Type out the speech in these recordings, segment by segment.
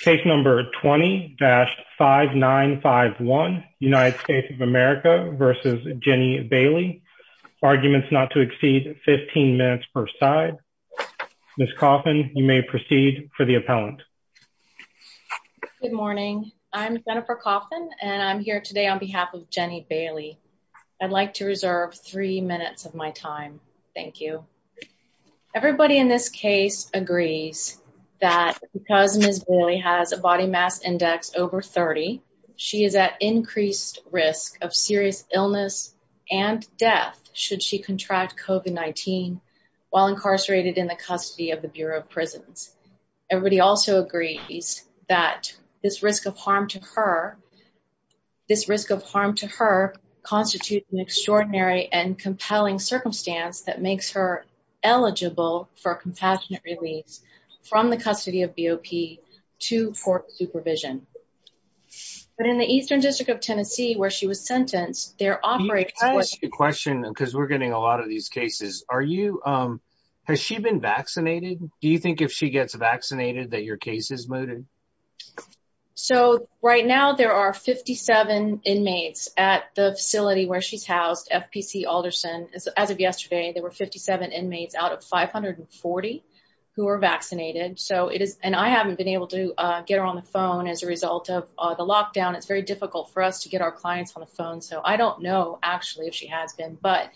Case number 20-5951, United States of America v. Jenny Bailey, arguments not to exceed 15 minutes per side. Ms. Coffin, you may proceed for the appellant. Good morning. I'm Jennifer Coffin and I'm here today on behalf of Jenny Bailey. I'd like to reserve three minutes of my time. Thank you. Everybody in this case agrees that because Ms. Bailey has a body mass index over 30, she is at increased risk of serious illness and death should she contract COVID-19 while incarcerated in the custody of the Bureau of Prisons. Everybody also agrees that this risk of harm to her constitutes an extraordinary and compelling eligible for a compassionate release from the custody of BOP to court supervision. But in the Eastern District of Tennessee, where she was sentenced, there operates- Let me ask you a question because we're getting a lot of these cases. Has she been vaccinated? Do you think if she gets vaccinated that your case is mooted? So right now there are 57 inmates at the facility where she's housed, FPC Alderson. As of yesterday, there were 57 inmates out of 540 who were vaccinated. And I haven't been able to get her on the phone as a result of the lockdown. It's very difficult for us to get our clients on the phone. So I don't know actually if she has been. But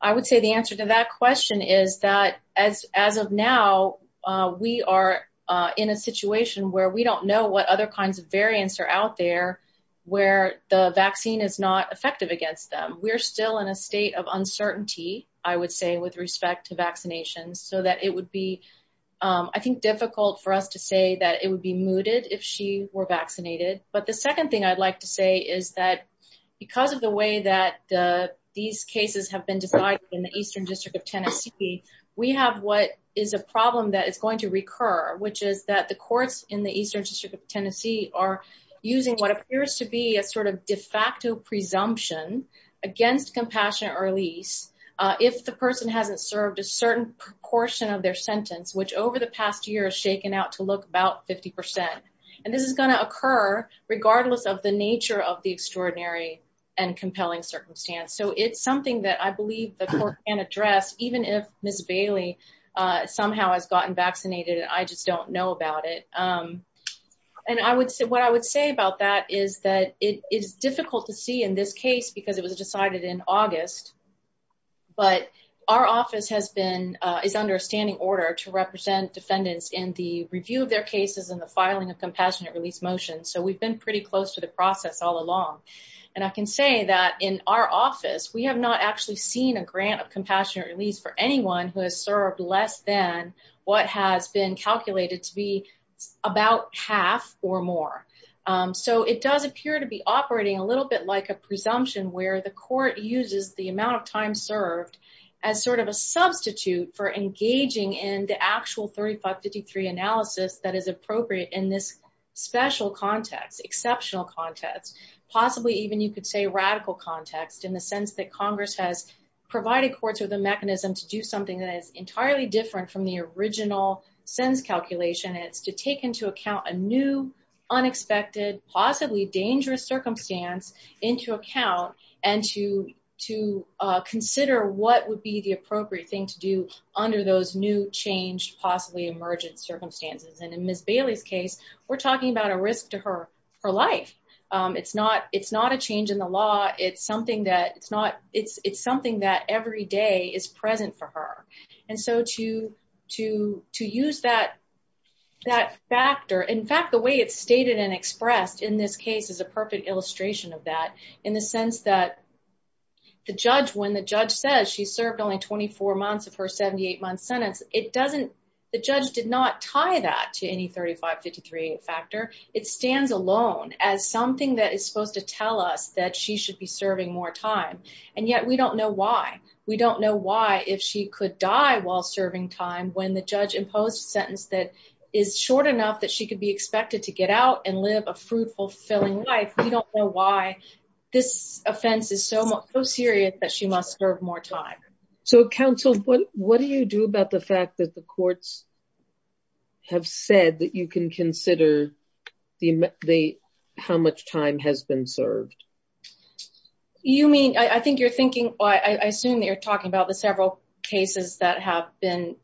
I would say the answer to that question is that as of now, we are in a situation where we don't know what other kinds of variants are out there where the vaccine is not effective against them. We're still in a state of uncertainty, I would say, with respect to vaccinations, so that it would be, I think, difficult for us to say that it would be mooted if she were vaccinated. But the second thing I'd like to say is that because of the way that these cases have been decided in the Eastern District of Tennessee, we have what is a problem that is going to recur, which is that the courts in the Eastern District of Tennessee are using what appears to be a sort of de facto presumption against compassionate release if the person hasn't served a certain proportion of their sentence, which over the past year has shaken out to look about 50%. And this is going to occur regardless of the nature of the extraordinary and compelling circumstance. So it's something that I believe the court can address, even if Ms. Bailey somehow has gotten vaccinated and I just don't know about it. And what I would say about that is that it is difficult to see in this case because it was decided in August, but our office has been, is under a standing order to represent defendants in the review of their cases and the filing of compassionate release motions. So we've been pretty close to the process all along. And I can say that in our office, we have not actually seen a grant of compassionate release for anyone who has served less than what has been calculated to be about half or more. So it does appear to be operating a little bit like a presumption where the court uses the amount of time served as sort of a substitute for engaging in the actual 3553 analysis that is appropriate in this special context, exceptional context, possibly even you could say radical context in the sense that Congress has provided courts with a mechanism to do something that is entirely different from the original sentence calculation. And it's to take into account a new, unexpected, possibly dangerous circumstance into account and to consider what would be the appropriate thing to do under those new changed, possibly emergent circumstances. And in Ms. Bailey's case, we're talking about a risk to her life. It's not a change in the law. It's something that every day is present for her. And so to use that factor, in fact, the way it's stated and expressed in this case is a perfect illustration of that in the sense that when the judge says she served only 24 months of her 78-month sentence, the judge did not tie that to any 3553 factor. It stands alone as something that is supposed to tell us that she should be serving more time. And yet we don't know why. We don't know why if she could die while serving time when the judge imposed a sentence that is short enough that she could be expected to get out and live a fruitful, fulfilling life. We don't know why this offense is so serious that she must serve more time. So counsel, what do you do about the fact that the time served? You mean, I think you're thinking, I assume that you're talking about the several cases that have been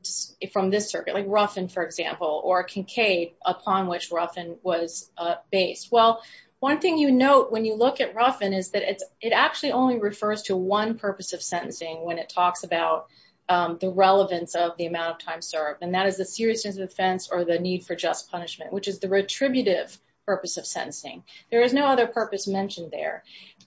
from this circuit, like Ruffin, for example, or Kincaid, upon which Ruffin was based. Well, one thing you note when you look at Ruffin is that it actually only refers to one purpose of sentencing when it talks about the relevance of the amount of time served. And that is the seriousness of offense or the need for just punishment, which is the retributive purpose of sentencing. There is no other purpose mentioned there.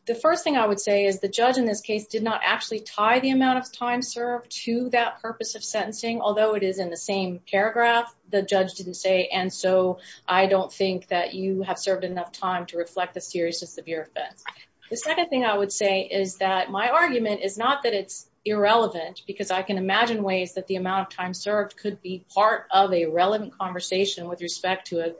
The first thing I would say is the judge in this case did not actually tie the amount of time served to that purpose of sentencing, although it is in the same paragraph, the judge didn't say, and so I don't think that you have served enough time to reflect the seriousness of your offense. The second thing I would say is that my argument is not that it's irrelevant because I can imagine ways that the amount of time served could be part of a relevant conversation with respect to a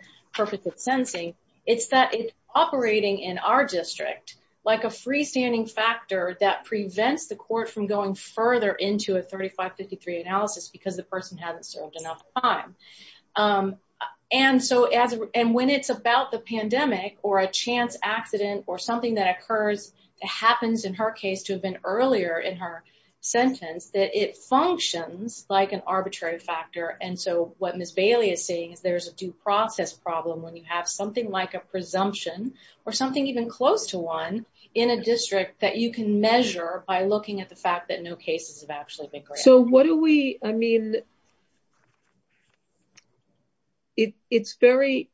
it's that it's operating in our district like a freestanding factor that prevents the court from going further into a 3553 analysis because the person hasn't served enough time. And when it's about the pandemic or a chance accident or something that occurs, it happens in her case to have been earlier in her sentence, that it functions like an arbitrary factor. And so what problem when you have something like a presumption or something even close to one in a district that you can measure by looking at the fact that no cases have actually been great? So what do we, I mean, it's very,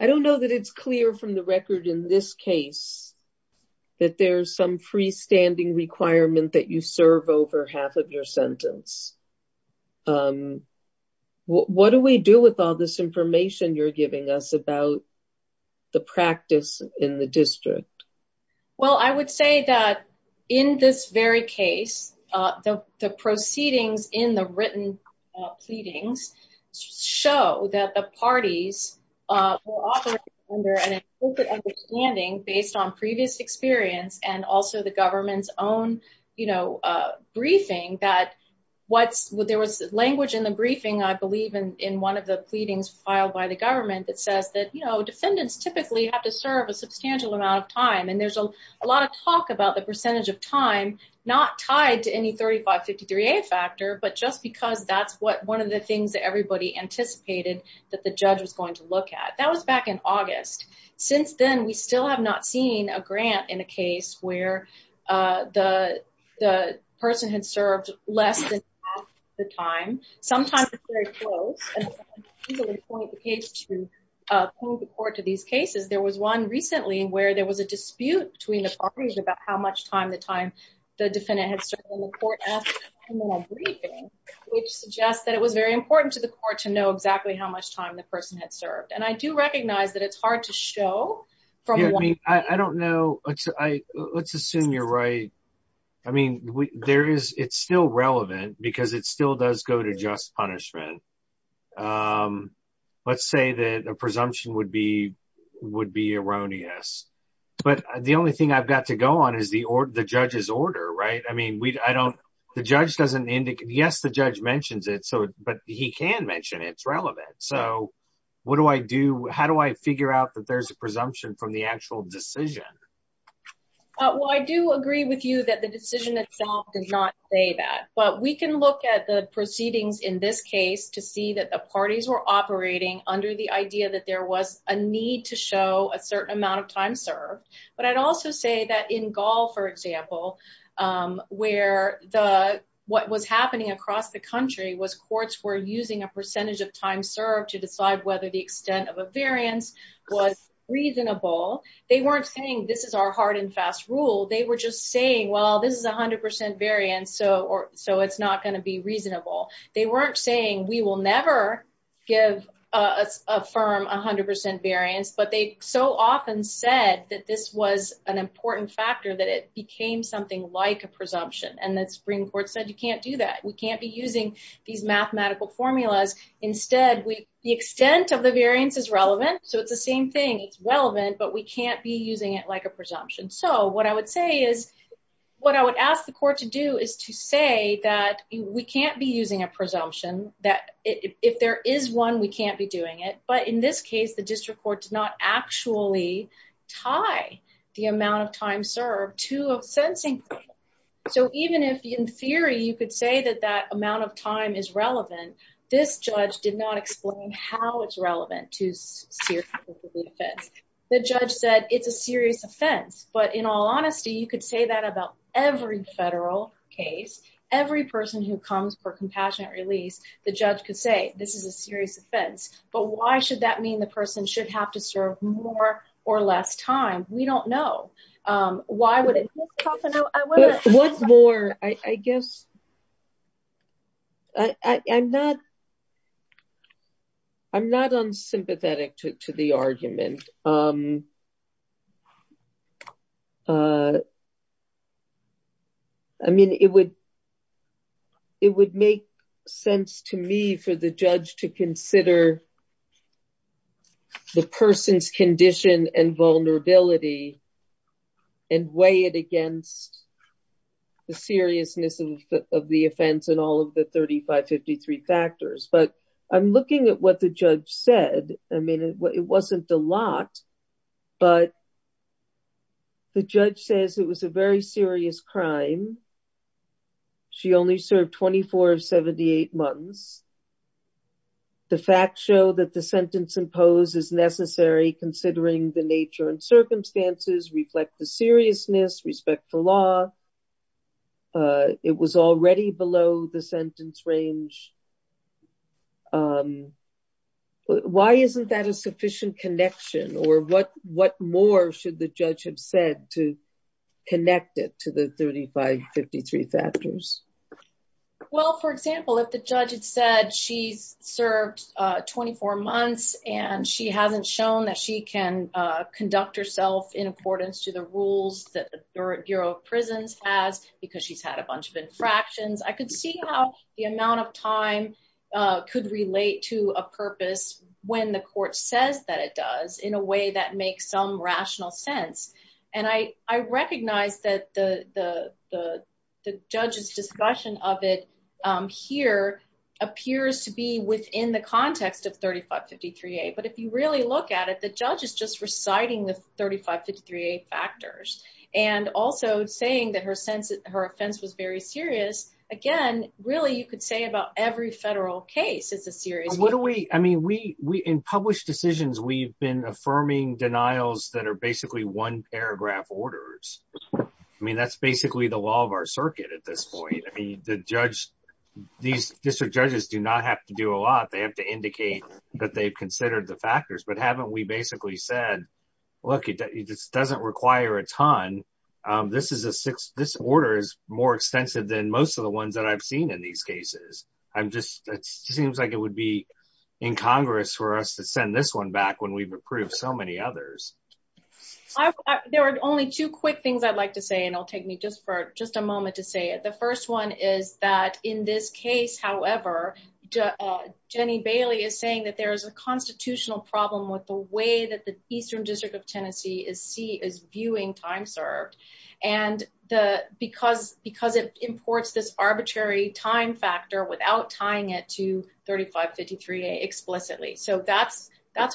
I don't know that it's clear from the record in this case that there's some freestanding requirement that you serve over half of your sentence. Um, what do we do with all this information you're giving us about the practice in the district? Well, I would say that in this very case, uh, the, the proceedings in the written, uh, pleadings show that the parties, uh, were often under an implicit understanding based on previous experience and also the government's own, you know, uh, briefing that what's there was language in the briefing, I believe in, in one of the pleadings filed by the government that says that, you know, defendants typically have to serve a substantial amount of time. And there's a lot of talk about the percentage of time, not tied to any 3553A factor, but just because that's what one of the things that everybody anticipated that the judge was going to look at that was back in August. Since then, we still have not seen a grant in a case where, uh, the, the person had served less than half the time. Sometimes it's very close, and people would point the case to, uh, prove the court to these cases. There was one recently where there was a dispute between the parties about how much time the time the defendant had served in the court after the criminal briefing, which suggests that it was very important to the court to know exactly how much time the person had served. And I do recognize that it's hard to show from what I mean. I don't know. I, let's assume you're right. I mean, there is, it's still relevant because it still does go to just punishment. Um, let's say that a presumption would be, would be erroneous, but the only thing I've got to go on is the, or the judge's order, right? I mean, we, I don't, the judge doesn't indicate, yes, the judge mentions it. So, but he can mention it's relevant. So what do I do? How do I figure out that there's presumption from the actual decision? Well, I do agree with you that the decision itself does not say that, but we can look at the proceedings in this case to see that the parties were operating under the idea that there was a need to show a certain amount of time served. But I'd also say that in Gaul, for example, um, where the, what was happening across the country was courts were using a percentage of time served to decide whether the extent of a variance was reasonable. They weren't saying this is our hard and fast rule. They were just saying, well, this is a hundred percent variance. So, or so it's not going to be reasonable. They weren't saying we will never give a firm a hundred percent variance, but they so often said that this was an important factor that it became something like a presumption. And the Supreme Court said, you can't do that. We can't be using these mathematical formulas. Instead, we, the extent of the variance is relevant. So it's the same thing. It's relevant, but we can't be using it like a presumption. So what I would say is what I would ask the court to do is to say that we can't be using a presumption that if there is one, we can't be doing it. But in this case, the district court did not actually tie the amount of time served to a sentencing. So even if in theory, you could say that that amount of time is relevant, this judge did not explain how it's relevant to the offense. The judge said it's a serious offense, but in all honesty, you could say that about every federal case, every person who comes for compassionate release, the judge could say, this is a serious offense, but why should that mean the person should have to serve more or less time? We don't know. Why would it? What's more, I guess I'm not unsympathetic to the argument. I mean, it would make sense to me for the judge to consider the person's condition and vulnerability and weigh it against the seriousness of the offense and all of the 3553 factors. But I'm looking at what the judge said. I mean, it wasn't a lot, but the judge says it was a very serious crime. She only served 24 of 78 months. The facts show that the sentence imposed is necessary considering the nature and circumstances reflect the seriousness, respect the law. It was already below the sentence range. Why isn't that a sufficient connection or what more should the judge have said to connect it the 3553 factors? Well, for example, if the judge had said she's served 24 months and she hasn't shown that she can conduct herself in accordance to the rules that the Bureau of Prisons has because she's had a bunch of infractions, I could see how the amount of time could relate to a purpose when the court says that it does in a way that makes some rational sense. And I recognize that the judge's discussion of it here appears to be within the context of 3553A. But if you really look at it, the judge is just reciting the 3553A factors and also saying that her offense was very serious. Again, really, you could say about every federal case, it's a serious case. In published decisions, we've been affirming denials that are basically one paragraph orders. I mean, that's basically the law of our circuit at this point. I mean, these district judges do not have to do a lot. They have to indicate that they've considered the factors. But haven't we basically said, look, it just doesn't require a ton. This order is more extensive than most of the ones that I've seen in these cases. It seems like it would be incongruous for us to send this one back when we've approved so many others. There are only two quick things I'd like to say, and it'll take me just for just a moment to say it. The first one is that in this case, however, Jenny Bailey is saying that there is a constitutional problem with the way that the Eastern District of Tennessee is viewing time served. And because it imports this arbitrary time factor without tying it to 3553A explicitly. So that's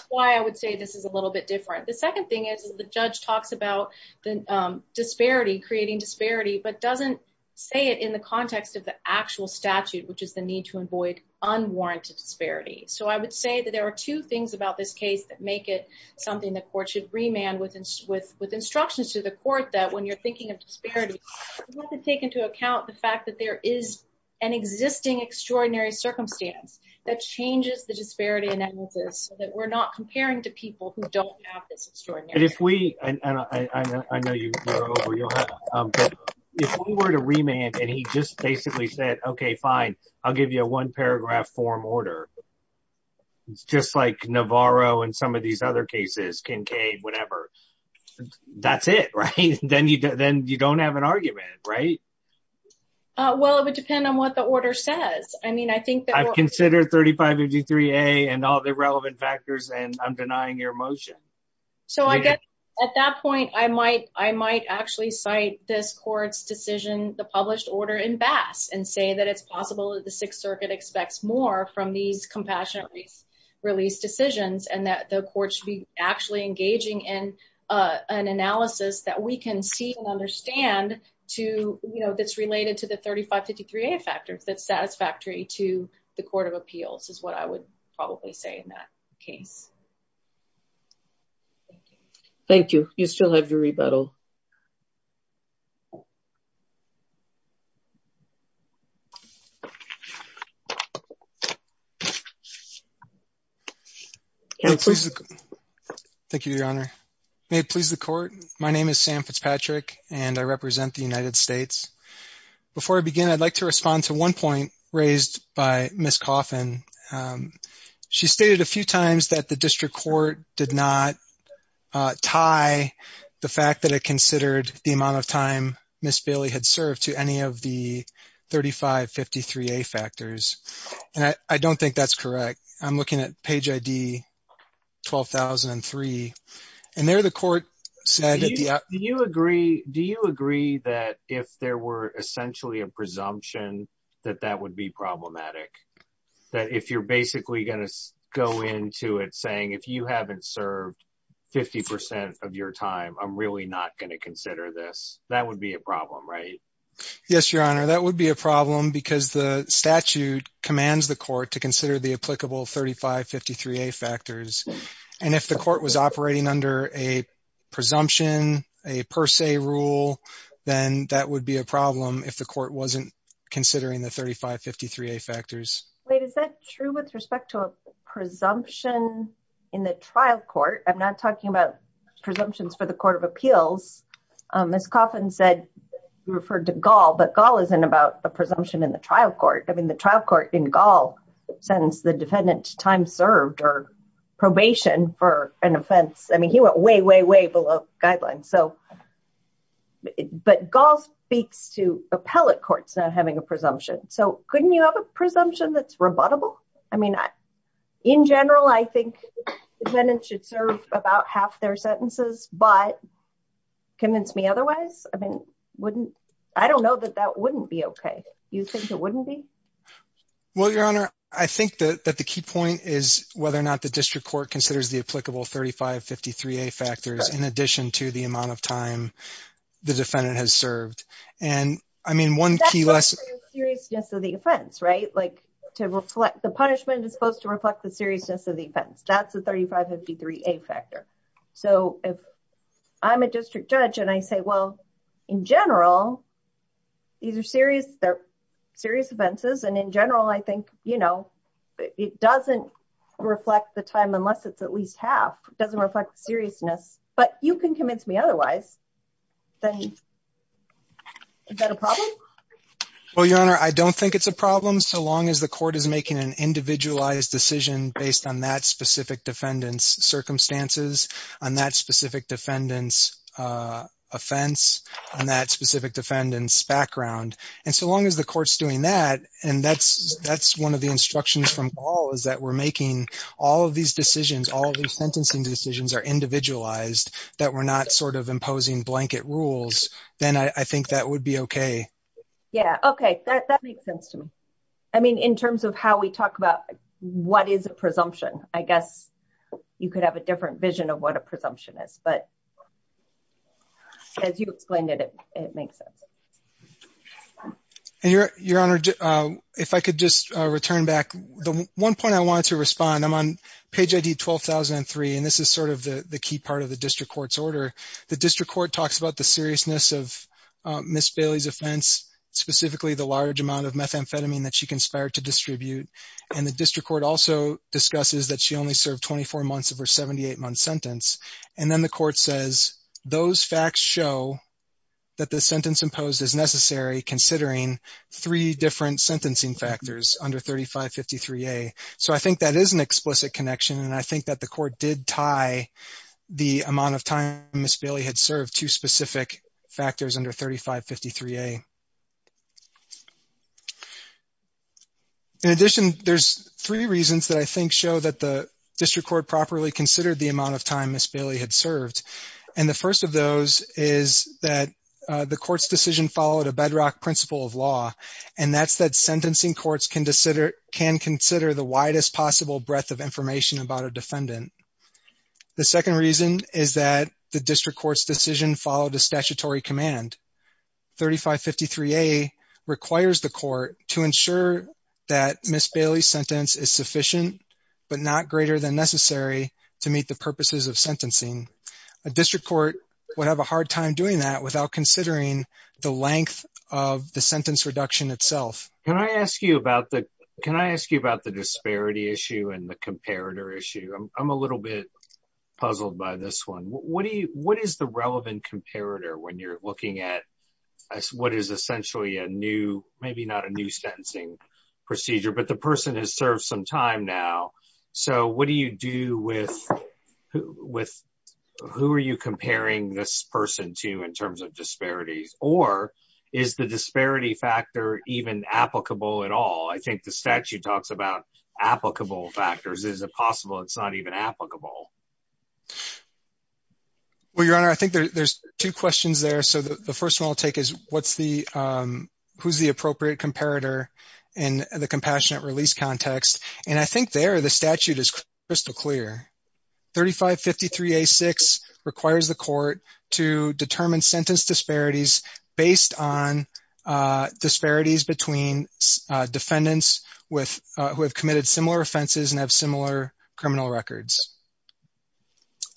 why I would say this is a little bit different. The second thing is the judge talks about the disparity, creating disparity, but doesn't say it in the context of the actual statute, which is the need to avoid unwarranted disparity. So I would say that there are two things about this case that make it something the court should remand with instructions to the court that when you're thinking of disparity, you have to into account the fact that there is an existing extraordinary circumstance that changes the disparity analysis that we're not comparing to people who don't have this extraordinary. And if we, and I know you're over, but if we were to remand and he just basically said, okay, fine, I'll give you a one paragraph form order. It's just like Navarro and some of these other cases, Kincaid, whatever, that's it, right? Then you don't have an argument, right? Well, it would depend on what the order says. I mean, I think that- I've considered 3553A and all the relevant factors and I'm denying your motion. So I guess at that point, I might actually cite this court's decision, the published order in Bass and say that it's possible that the Sixth Circuit expects more from these compassionate release decisions and that the court should be actually engaging in an analysis that we can see and understand to, you know, that's related to the 3553A factors that's satisfactory to the court of appeals is what I would probably say in that case. Thank you. You still have your rebuttal. May it please the court. Thank you, Your Honor. May it please the court. My name is Sam Fitzpatrick and I represent the United States. Before I begin, I'd like to respond to one point raised by Ms. Coffin. She stated a few times that the district court did not tie the fact that it considered the amount of time Ms. Bailey had served to any of the 3553A factors and I don't think that's correct. I'm looking at page ID 12,003 and there the court said... Do you agree that if there were essentially a presumption that that would be problematic? That if you're basically going to go into it saying if you haven't served 50% of your time, I'm really not going to consider this, that would be a problem, right? Yes, Your Honor. That would be a problem because the statute commands the court to consider the applicable 3553A factors and if the court was operating under a presumption, a per se rule, then that would be a problem if the court wasn't considering the 3553A factors. Wait, is that true with respect to a presumption in the trial court? I'm not talking about Gaul, but Gaul isn't about the presumption in the trial court. I mean, the trial court in Gaul sentenced the defendant to time served or probation for an offense. I mean, he went way, way, way below guidelines. But Gaul speaks to appellate courts not having a presumption. So, couldn't you have a presumption that's rebuttable? I mean, in general, I think the defendant should serve about half their sentences, but convince me otherwise? I mean, I don't know that that wouldn't be okay. You think it wouldn't be? Well, Your Honor, I think that the key point is whether or not the district court considers the applicable 3553A factors in addition to the amount of time the defendant has served. And I mean, one key lesson- That's supposed to reflect the seriousness of the offense, right? The punishment is supposed to reflect the seriousness of the 3553A factor. So, if I'm a district judge and I say, well, in general, these are serious offenses, and in general, I think it doesn't reflect the time unless it's at least half. It doesn't reflect seriousness. But you can convince me otherwise. Is that a problem? Well, Your Honor, I don't think it's a problem so long as the court is making an individualized decision based on that specific defendant's circumstances, on that specific defendant's offense, on that specific defendant's background. And so long as the court's doing that, and that's one of the instructions from Paul is that we're making all of these decisions, all of these sentencing decisions are individualized, that we're not sort of imposing blanket rules, then I think that would be okay. Yeah. Okay. That makes sense to me. I mean, in terms of how we talk about what is a presumption, I guess you could have a different vision of what a presumption is. But as you explained it, it makes sense. And Your Honor, if I could just return back, the one point I wanted to respond, I'm on page ID 12003, and this is sort of the key part of the district court's order. The district court talks about the seriousness of Ms. Bailey's offense, specifically the large amount of methamphetamine that she conspired to distribute. And the district court also discusses that she only served 24 months of her 78-month sentence. And then the court says, those facts show that the sentence imposed is necessary considering three different sentencing factors under 3553A. So I think that is an explicit connection. And I think that the court did tie the amount of time Ms. Bailey had served to specific factors under 3553A. In addition, there's three reasons that I think show that the district court properly considered the amount of time Ms. Bailey had served. And the first of those is that the court's decision followed a bedrock principle of law, and that's that sentencing courts can consider the widest possible breadth of information about a defendant. The second reason is that the district court's decision followed a statutory command. 3553A requires the court to ensure that Ms. Bailey's sentence is sufficient but not greater than necessary to meet the purposes of sentencing. A district court would have a hard time doing that without considering the length of the sentence reduction itself. Can I ask you about the disparity issue and the comparator issue? I'm a little bit puzzled by this one. What is the relevant comparator when you're looking at what is essentially a new, maybe not a new sentencing procedure, but the person has served some time now. So what do you do with, who are you comparing this person to in terms of disparities? Or is the disparity factor even applicable at all? I think the statute talks about applicable factors. Is it possible it's not even applicable? Well, Your Honor, I think there's two questions there. So the first one I'll take is what's the, who's the appropriate comparator in the compassionate release context? And I think there the statute is crystal clear. 3553A6 requires the court to determine sentence disparities based on disparities between defendants who have committed similar offenses and have similar criminal records.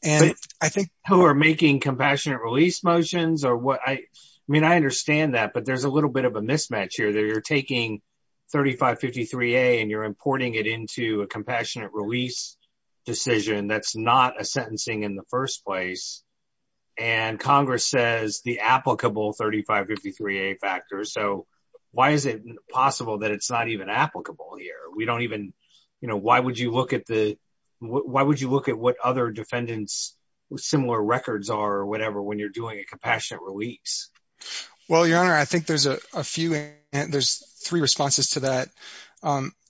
And I think- Who are making compassionate release motions or what? I mean, I understand that, but there's a little bit of a mismatch here that you're taking 3553A and you're importing it into a compassionate release decision that's not a sentencing in the 3553A factor. So why is it possible that it's not even applicable here? We don't even, you know, why would you look at the, why would you look at what other defendants similar records are or whatever when you're doing a compassionate release? Well, Your Honor, I think there's a few, there's three responses to that.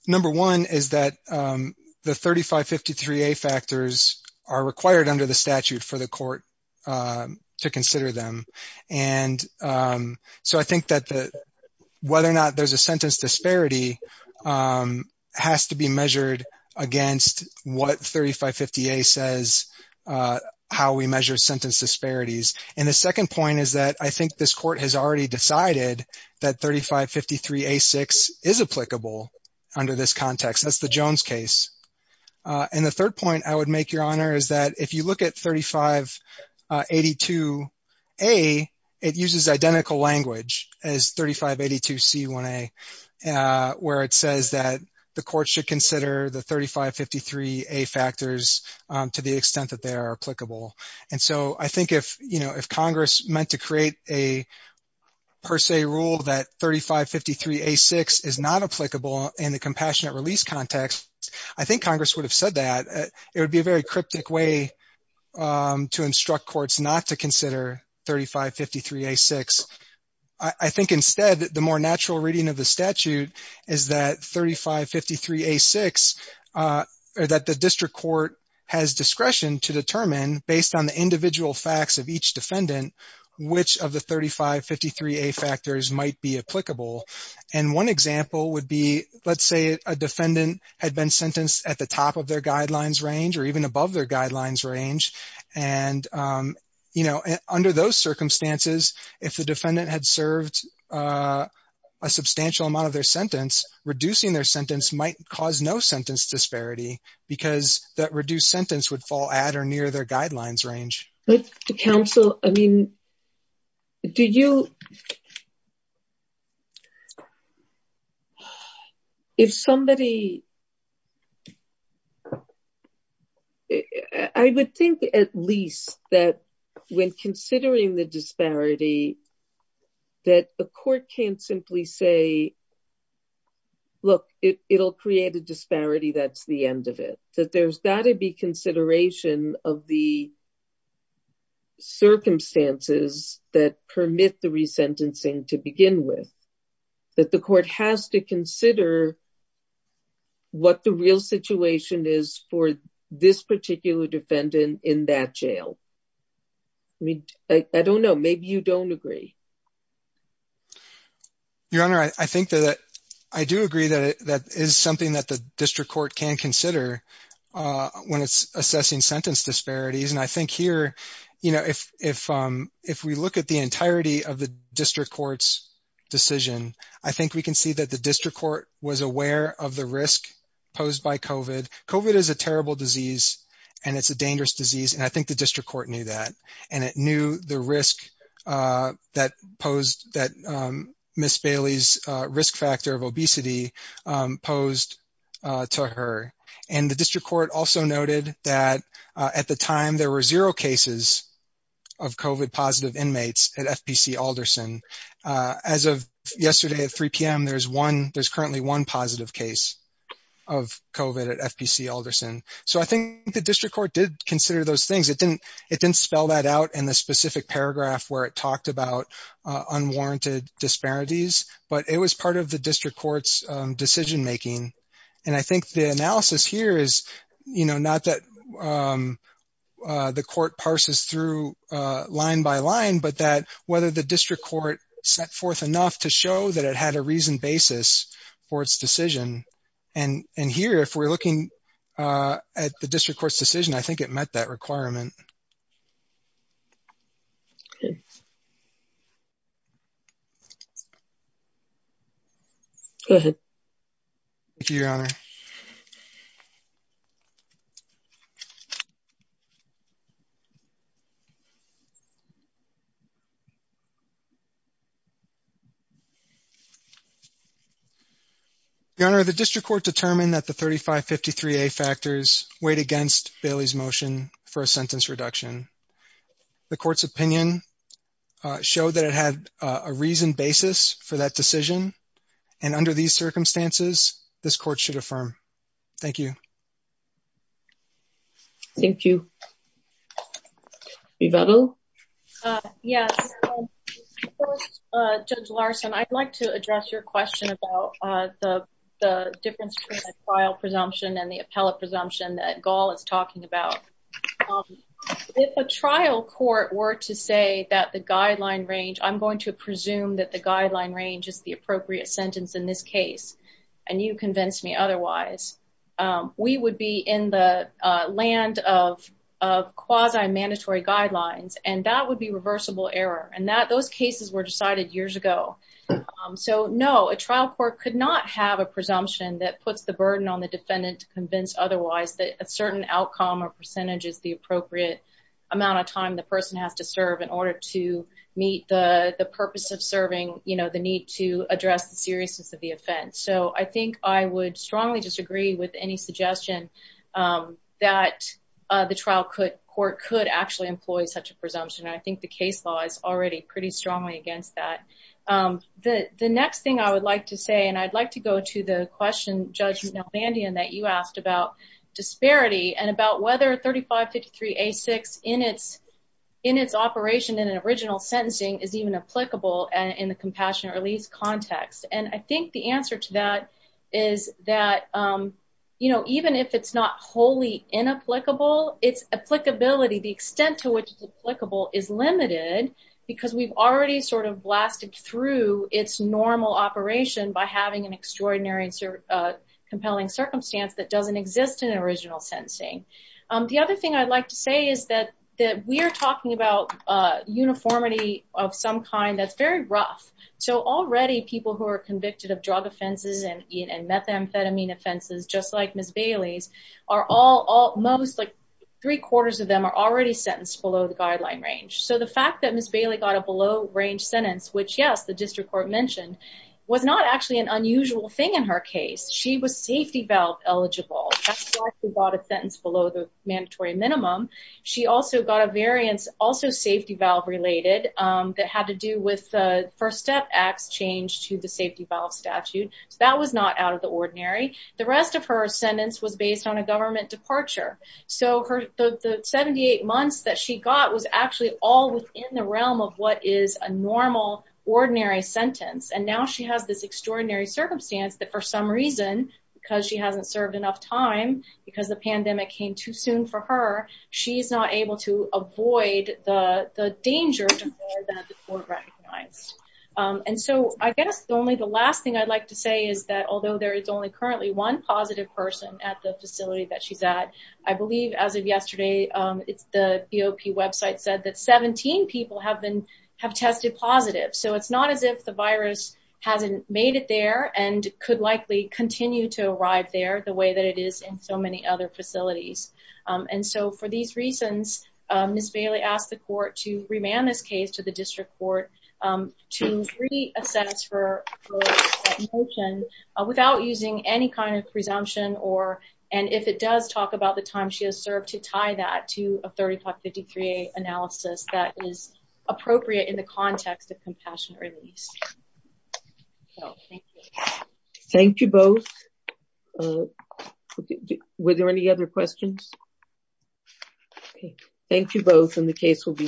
Number one is that the 3553A factors are required under the statute for the court to consider them. And so I think that the, whether or not there's a sentence disparity has to be measured against what 3550A says, how we measure sentence disparities. And the second point is that I think this court has already decided that 3553A6 is applicable under this context. That's the Jones case. And the third point I would make, Your Honor, is that if you look at 3582A, it uses identical language as 3582C1A, where it says that the court should consider the 3553A factors to the extent that they are applicable. And so I think if, you know, if Congress meant to create a per se rule that 3553A6 is not applicable in the compassionate release context, I think Congress would have said that. It would be a very cryptic way to instruct courts not to consider 3553A6. I think instead, the more natural reading of the statute is that 3553A6, or that the district court has discretion to determine based on the individual facts of each defendant, which of the 3553A factors might be applicable. And one example would be, let's say a defendant had been sentenced at the top of their guidelines range or even above their guidelines range. And, you know, under those circumstances, if the defendant had served a substantial amount of their sentence, reducing their sentence might cause no sentence disparity because that reduced sentence would fall at or near their guidelines range. But to counsel, I mean, do you, if somebody, I would think at least that when considering the disparity, that the court can't simply say, look, it'll create a disparity, that's the end of it. That there's got to be consideration of the circumstances that permit the resentencing to begin with. That the court has to consider what the real situation is for this particular defendant in that jail. I mean, I don't know, maybe you don't agree. Your Honor, I think that I do agree that that is something that the district court can consider when it's assessing sentence disparities. And I think here, you know, if we look at the entirety of the district court's decision, I think we can see that the district court was aware of the risk posed by COVID. COVID is a terrible disease and it's a dangerous disease. And I think the district court knew that. And it knew the risk that posed, that Ms. Bailey's risk factor of obesity posed to her. And the district court also noted that at the time there were zero cases of COVID positive inmates at FPC Alderson. As of yesterday at 3 p.m., there's one, there's currently one positive case of COVID at FPC Alderson. So I think the district court did consider those things. It didn't spell that out in the specific paragraph where it talked about decision-making. And I think the analysis here is, you know, not that the court parses through line by line, but that whether the district court set forth enough to show that it had a reasoned basis for its decision. And here, if we're looking at the district court's decision, I think it met that requirement. Go ahead. Thank you, Your Honor. Your Honor, the district court determined that the 3553A factors weighed against Bailey's motion for a sentence reduction. The court's opinion showed that it had a reasoned basis for that sentence. Thank you. Yes, Judge Larson, I'd like to address your question about the difference between a trial presumption and the appellate presumption that Gall is talking about. If a trial court were to say that the guideline range, I'm going to presume that the guideline range is the appropriate amount of time the person has to serve in order to meet the purpose of serving, you know, the need to address the seriousness of the offense. So, I think I would strongly disagree with the presumption that a trial court could not have a presumption that puts the burden on the defendant to convince otherwise that a certain outcome or percentage is the appropriate amount of time the person has to serve in order to meet the purpose of serving, you know, the need to address the offense. So, I think I would strongly disagree with any suggestion that the trial court could actually employ such a presumption. I think the case law is already pretty strongly against that. The next thing I would like to say, and I'd like to go to the question, Judge Nelbandian, that you asked about disparity and about whether 3553A6 in its operation in an original sentencing is even applicable in the compassionate release context. And I think the answer to that is that, you know, even if it's not wholly inapplicable, its applicability, the extent to which it's applicable is limited because we've already sort of blasted through its normal operation by having an extraordinary and compelling circumstance that doesn't exist in an original sentencing. The other thing I'd like to say is that we're talking about uniformity of some kind that's very rough. So, already people who are convicted of drug offenses and methamphetamine offenses, just like Ms. Bailey's, are all, almost like three-quarters of them are already sentenced below the guideline range. So, the fact that Ms. Bailey got a below-range sentence, which, yes, the district court mentioned, was not actually an unusual thing in her case. She was safety below the mandatory minimum. She also got a variance, also safety valve related, that had to do with the First Step Act's change to the safety valve statute. So, that was not out of the ordinary. The rest of her sentence was based on a government departure. So, the 78 months that she got was actually all within the realm of what is a normal, ordinary sentence. And now she has this extraordinary circumstance that, for some reason, because she hasn't served enough time, because the pandemic came too soon for her, she's not able to avoid the danger that the court recognized. And so, I guess only the last thing I'd like to say is that, although there is only currently one positive person at the facility that she's at, I believe, as of yesterday, the BOP website said that 17 people have tested positive. So, it's not as if the virus hasn't made it there and could likely continue to arrive there the way that it is in so many other facilities. And so, for these reasons, Ms. Bailey asked the court to remand this case to the district court to re-assess her motion without using any kind of presumption or, and if it does, talk about the time she has served to tie that to a 3553A analysis that is appropriate in the context of thank you. Thank you both. Were there any other questions? Thank you both, and the case will be submitted.